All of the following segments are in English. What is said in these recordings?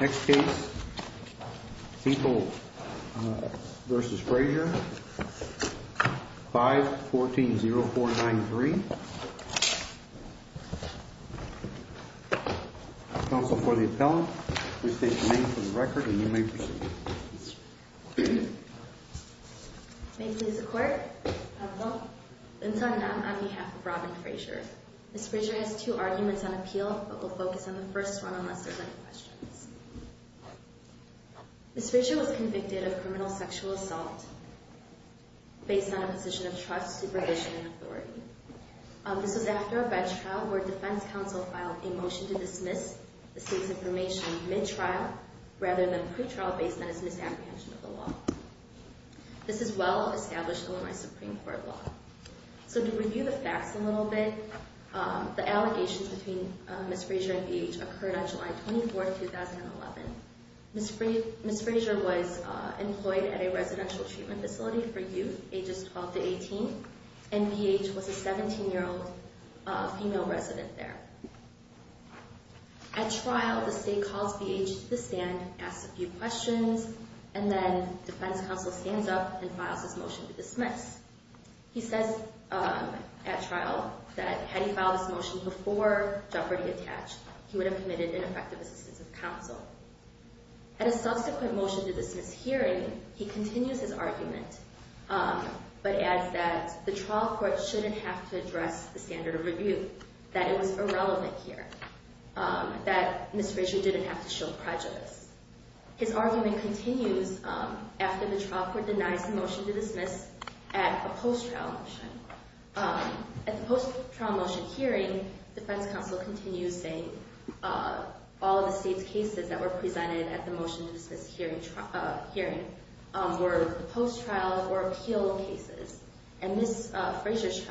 Next case, Siegel v. Frazier, 5-14-0493, counsel for the appellant. Please state your name for the record and you may proceed. May it please the court. Counsel. I'm on behalf of Robin Frazier. Ms. Frazier has two arguments on appeal, but we'll focus on the first one unless there's any questions. Ms. Frazier was convicted of criminal sexual assault based on a position of trust, supervision, and authority. This was after a bench trial where a defense counsel filed a motion to dismiss the state's information mid-trial rather than pre-trial based on its misapprehension of the law. This is well established in Illinois Supreme Court law. So to review the facts a little bit, the allegations between Ms. Frazier and BH occurred on July 24, 2011. Ms. Frazier was employed at a residential treatment facility for youth, ages 12 to 18, and BH was a 17-year-old female resident there. At trial, the state calls BH to the stand, asks a few questions, and then defense counsel stands up and files his motion to dismiss. He says at trial that had he filed his motion before Jeopardy! attached, he would have committed ineffective assistance of counsel. At a subsequent motion to dismiss hearing, he continues his argument but adds that the trial court shouldn't have to address the standard of review, that it was irrelevant here, that Ms. Frazier didn't have to show prejudice. His argument continues after the trial court denies the motion to dismiss at a post-trial motion. At the post-trial motion hearing, defense counsel continues saying all of the state's cases that were presented at the motion to dismiss hearing were post-trial or appeal cases, and Ms. Frazier's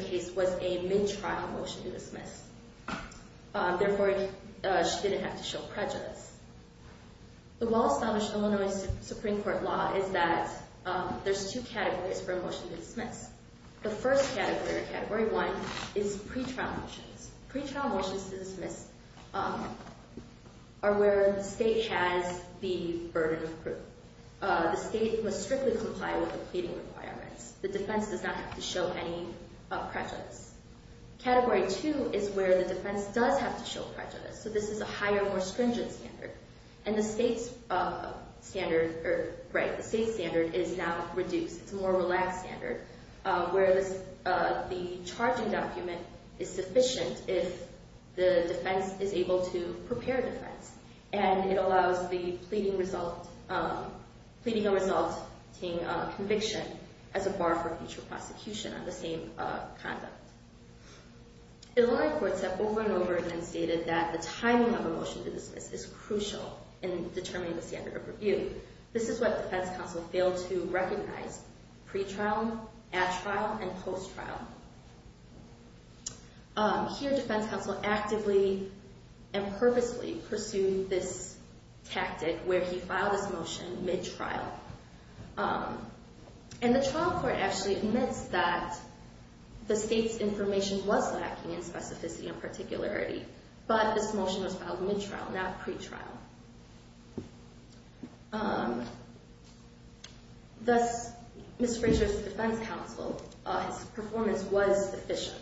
case was a mid-trial motion to dismiss. Therefore, she didn't have to show prejudice. The well-established Illinois Supreme Court law is that there's two categories for a motion to dismiss. The first category, or Category 1, is pretrial motions. Pretrial motions to dismiss are where the state has the burden of proof. The state must strictly comply with the pleading requirements. The defense does not have to show any prejudice. Category 2 is where the defense does have to show prejudice. So this is a higher, more stringent standard, and the state's standard is now reduced. It's a more relaxed standard where the charging document is sufficient if the defense is able to prepare defense. And it allows the pleading result, pleading a resulting conviction as a bar for future prosecution on the same conduct. Illinois courts have over and over again stated that the timing of a motion to dismiss is crucial in determining the standard of review. This is what defense counsel failed to recognize, pretrial, at trial, and post-trial. Here, defense counsel actively and purposely pursued this tactic where he filed this motion mid-trial. And the trial court actually admits that the state's information was lacking in specificity and particularity, but this motion was filed mid-trial, not pretrial. Thus, Ms. Frazier's defense counsel, his performance was sufficient.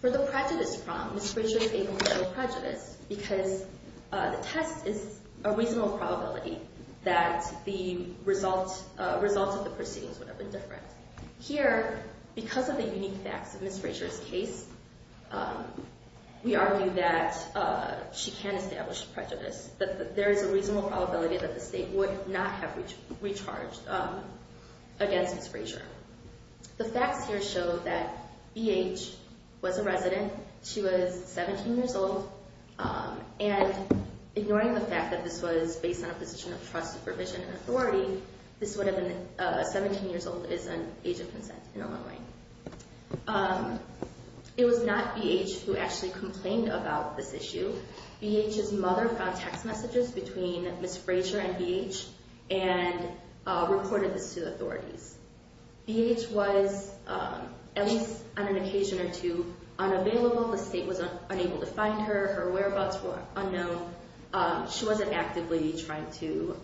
For the prejudice problem, Ms. Frazier failed to show prejudice because the test is a reasonable probability that the results of the proceedings would have been different. Here, because of the unique facts of Ms. Frazier's case, we argue that she can establish prejudice, that there is a reasonable probability that the state would not have recharged against Ms. Frazier. The facts here show that BH was a resident. She was 17 years old, and ignoring the fact that this was based on a position of trust, supervision, and authority, this would have been 17 years old is an age of consent in Illinois. It was not BH who actually complained about this issue. BH's mother found text messages between Ms. Frazier and BH and reported this to authorities. BH was, at least on an occasion or two, unavailable. The state was unable to find her. Her whereabouts were unknown. She wasn't actively trying to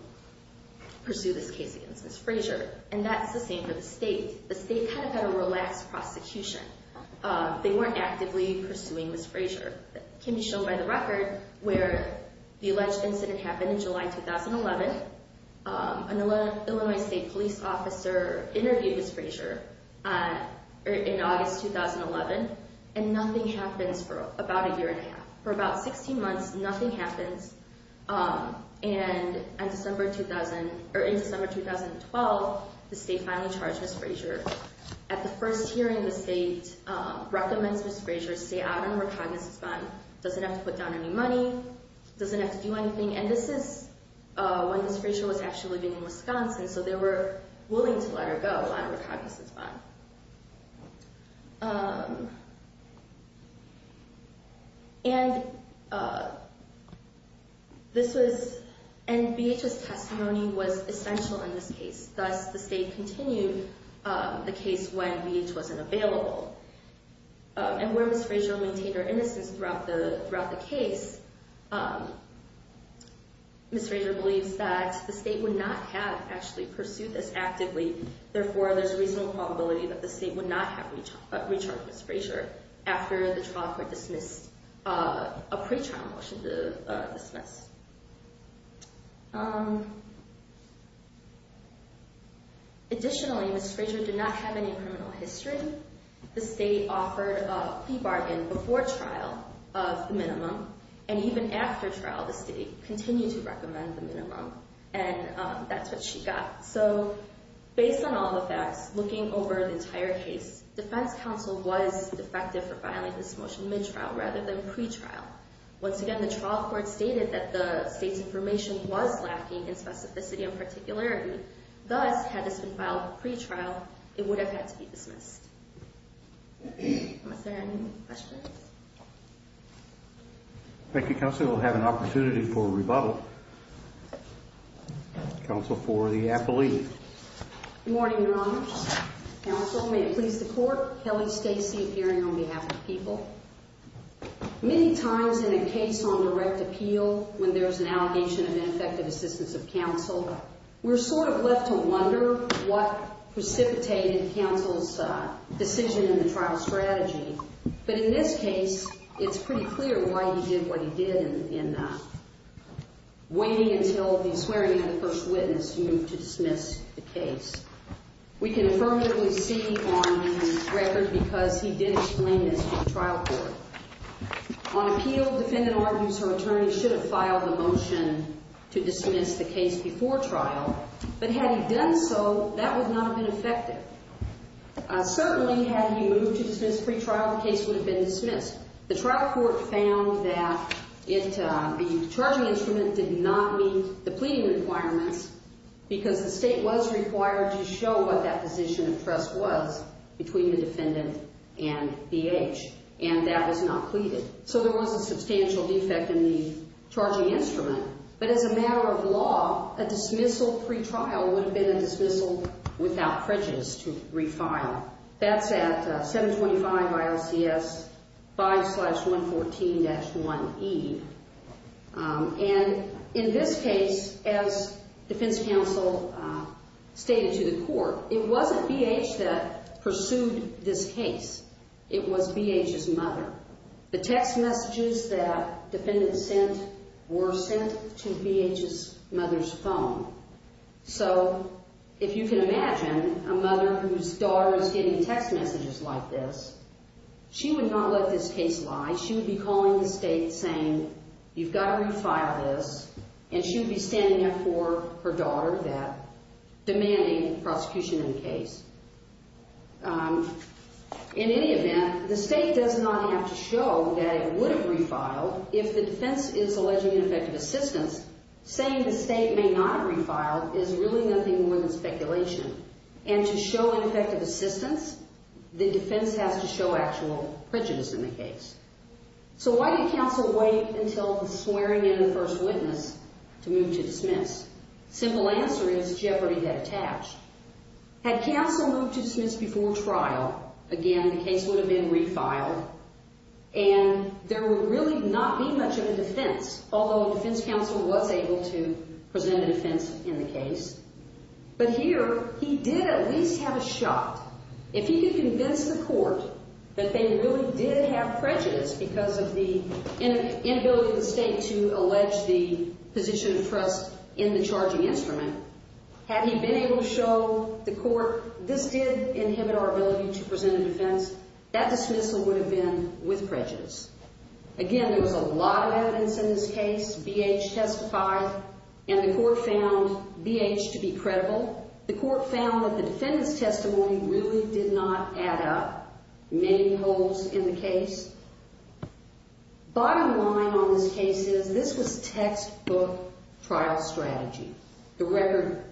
pursue this case against Ms. Frazier, and that's the same for the state. The state kind of had a relaxed prosecution. They weren't actively pursuing Ms. Frazier. It can be shown by the record where the alleged incident happened in July 2011. An Illinois state police officer interviewed Ms. Frazier in August 2011, and nothing happens for about a year and a half. For about 16 months, nothing happens. And in December 2012, the state finally charged Ms. Frazier. At the first hearing, the state recommends Ms. Frazier stay out of the recognizance bond, doesn't have to put down any money, doesn't have to do anything. And this is when Ms. Frazier was actually living in Wisconsin, so they were willing to let her go out of the recognizance bond. And this was – and BH's testimony was essential in this case. Thus, the state continued the case when BH wasn't available. And where Ms. Frazier maintained her innocence throughout the case, Ms. Frazier believes that the state would not have actually pursued this actively. Therefore, there's a reasonable probability that the state would not have recharged Ms. Frazier after the trial court dismissed a pretrial motion to dismiss. Additionally, Ms. Frazier did not have any criminal history. The state offered a plea bargain before trial of the minimum. And even after trial, the state continued to recommend the minimum, and that's what she got. So, based on all the facts, looking over the entire case, defense counsel was defective for filing this motion mid-trial rather than pre-trial. Once again, the trial court stated that the state's information was lacking in specificity and particularity. Thus, had this been filed pre-trial, it would have had to be dismissed. Are there any questions? Thank you, counsel. We'll have an opportunity for a rebuttal. Counsel for the appellee. Good morning, Your Honors. Counsel, may it please the court, Kelly Stacey, appearing on behalf of the people. Many times in a case on direct appeal, when there's an allegation of ineffective assistance of counsel, we're sort of left to wonder what precipitated counsel's decision in the trial strategy. But in this case, it's pretty clear why he did what he did in waiting until the swearing-in of the first witness to move to dismiss the case. We can affirmatively see on the record because he did explain this to the trial court. On appeal, defendant argues her attorney should have filed the motion to dismiss the case before trial, but had he done so, that would not have been effective. Certainly, had he moved to dismiss pre-trial, the case would have been dismissed. The trial court found that the charging instrument did not meet the pleading requirements because the state was required to show what that position of trust was between the defendant and BH, and that was not pleaded. So there was a substantial defect in the charging instrument. But as a matter of law, a dismissal pre-trial would have been a dismissal without prejudice to refile. That's at 725 ILCS 5-114-1E. And in this case, as defense counsel stated to the court, it wasn't BH that pursued this case. It was BH's mother. The text messages that defendants sent were sent to BH's mother's phone. So if you can imagine a mother whose daughter is getting text messages like this, she would not let this case lie. She would be calling the state saying, you've got to refile this, and she would be standing up for her daughter that demanding prosecution in the case. In any event, the state does not have to show that it would have refiled if the defense is alleging ineffective assistance. Saying the state may not have refiled is really nothing more than speculation. And to show ineffective assistance, the defense has to show actual prejudice in the case. So why did counsel wait until the swearing-in of the first witness to move to dismiss? Simple answer is jeopardy had attached. Had counsel moved to dismiss before trial, again, the case would have been refiled, and there would really not be much of a defense, although a defense counsel was able to present a defense in the case. But here, he did at least have a shot. If he could convince the court that they really did have prejudice because of the inability of the state to allege the position of trust in the charging instrument, had he been able to show the court this did inhibit our ability to present a defense, that dismissal would have been with prejudice. Again, there was a lot of evidence in this case. BH testified, and the court found BH to be credible. The court found that the defendant's testimony really did not add up many holes in the case. Bottom line on this case is this was textbook trial strategy. The record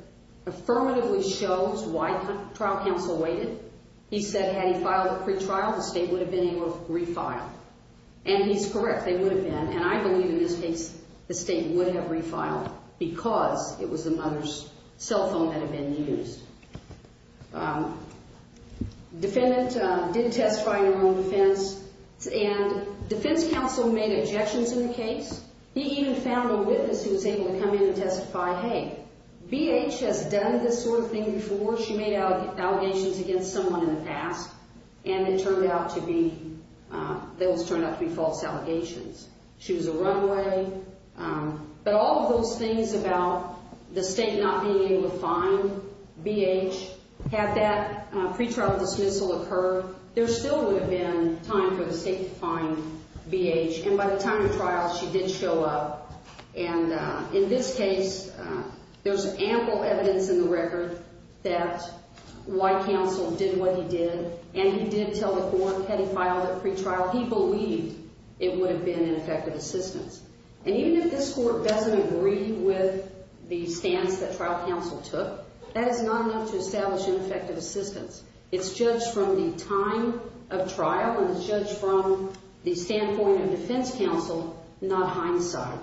affirmatively shows why trial counsel waited. He said had he filed a pretrial, the state would have been able to refile, and he's correct. They would have been, and I believe in this case the state would have refiled because it was the mother's cell phone that had been used. Defendant did testify in her own defense, and defense counsel made objections in the case. He even found a witness who was able to come in and testify, hey, BH has done this sort of thing before. She made allegations against someone in the past, and it turned out to be those turned out to be false allegations. She was a runaway. But all of those things about the state not being able to find BH, had that pretrial dismissal occurred, there still would have been time for the state to find BH, and by the time of trial, she did show up. And in this case, there's ample evidence in the record that why counsel did what he did, and he did tell the court had he filed a pretrial he believed it would have been ineffective assistance. And even if this court doesn't agree with the stance that trial counsel took, that is not enough to establish ineffective assistance. It's judged from the time of trial, and it's judged from the standpoint of defense counsel, not hindsight.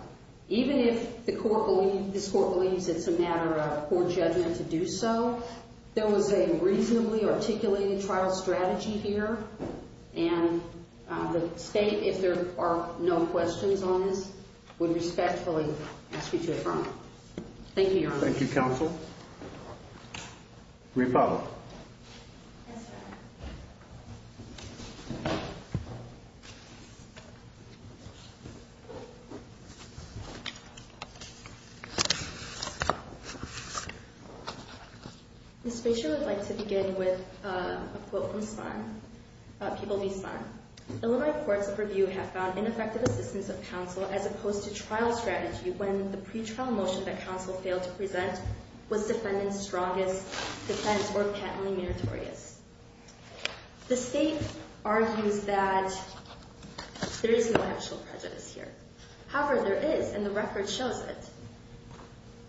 Even if this court believes it's a matter of court judgment to do so, there was a reasonably articulated trial strategy here, and the state, if there are no questions on this, would respectfully ask you to affirm it. Thank you, Your Honor. Thank you, counsel. We follow. Yes, Your Honor. Ms. Fischer would like to begin with a quote from Spahn, People v. Spahn. Illinois courts of review have found ineffective assistance of counsel as opposed to trial strategy when the pretrial motion that counsel failed to present was defendant's strongest defense or patently meritorious. The state argues that there is no actual prejudice here. However, there is, and the record shows it.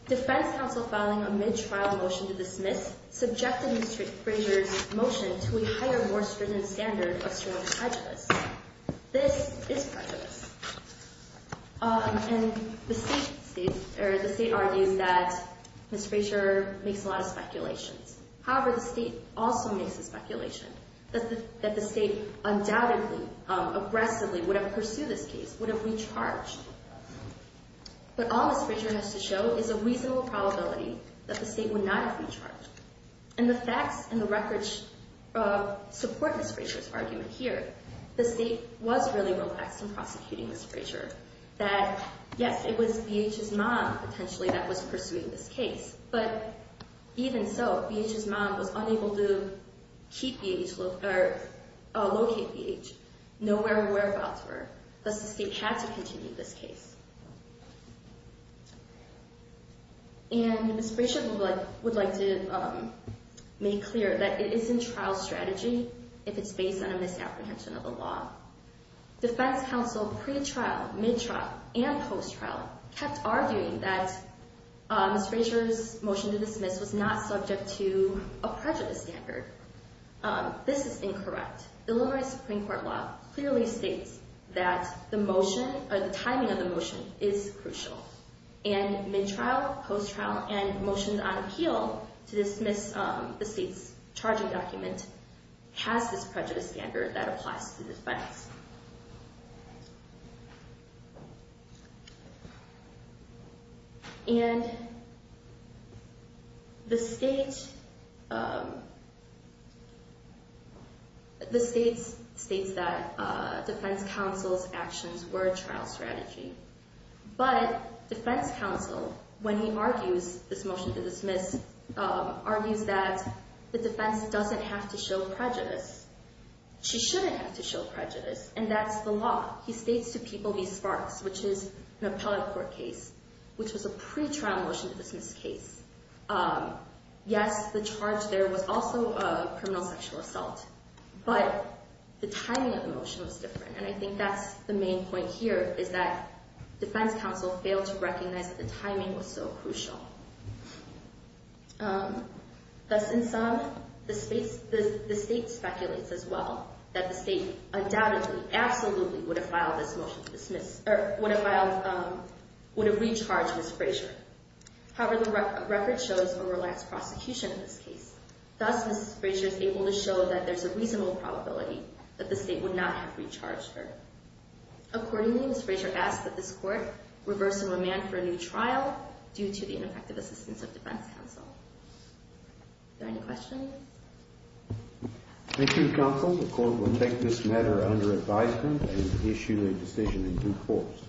Defense counsel filing a mid-trial motion to dismiss subjected Ms. Fischer's motion to a higher, more stringent standard of strong prejudice. This is prejudice. And the state argues that Ms. Fischer makes a lot of speculations. However, the state also makes a speculation that the state undoubtedly, aggressively would have pursued this case, would have recharged. But all Ms. Fischer has to show is a reasonable probability that the state would not have recharged. And the facts and the records support Ms. Fischer's argument here. The state was really relaxed in prosecuting Ms. Fischer, that, yes, it was BH's mom, potentially, that was pursuing this case. But even so, BH's mom was unable to keep BH, locate BH, know where her whereabouts were. Thus, the state had to continue this case. And Ms. Frasier would like to make clear that it isn't trial strategy if it's based on a misapprehension of the law. Defense counsel pre-trial, mid-trial, and post-trial kept arguing that Ms. Frasier's motion to dismiss was not subject to a prejudice standard. This is incorrect. The Illinois Supreme Court law clearly states that the motion, or the timing of the motion, is crucial. And mid-trial, post-trial, and motions on appeal to dismiss the state's charging document has this prejudice standard that applies to defense. And the state states that defense counsel's actions were a trial strategy. But defense counsel, when he argues this motion to dismiss, argues that the defense doesn't have to show prejudice. She shouldn't have to show prejudice. And that's the law. He states to people these sparks, which is an appellate court case, which was a pre-trial motion to dismiss case. Yes, the charge there was also a criminal sexual assault. But the timing of the motion was different. And I think that's the main point here, is that defense counsel failed to recognize that the timing was so crucial. Thus, in sum, the state speculates as well that the state undoubtedly, absolutely would have filed this motion to dismiss, or would have filed, would have recharged Ms. Frasier. However, the record shows a relaxed prosecution in this case. Thus, Ms. Frasier is able to show that there's a reasonable probability that the state would not have recharged her. Accordingly, Ms. Frasier asks that this court reverse the remand for a new trial due to the ineffective assistance of defense counsel. Are there any questions? Thank you, counsel. The court will take this matter under advisement and issue a decision in due course.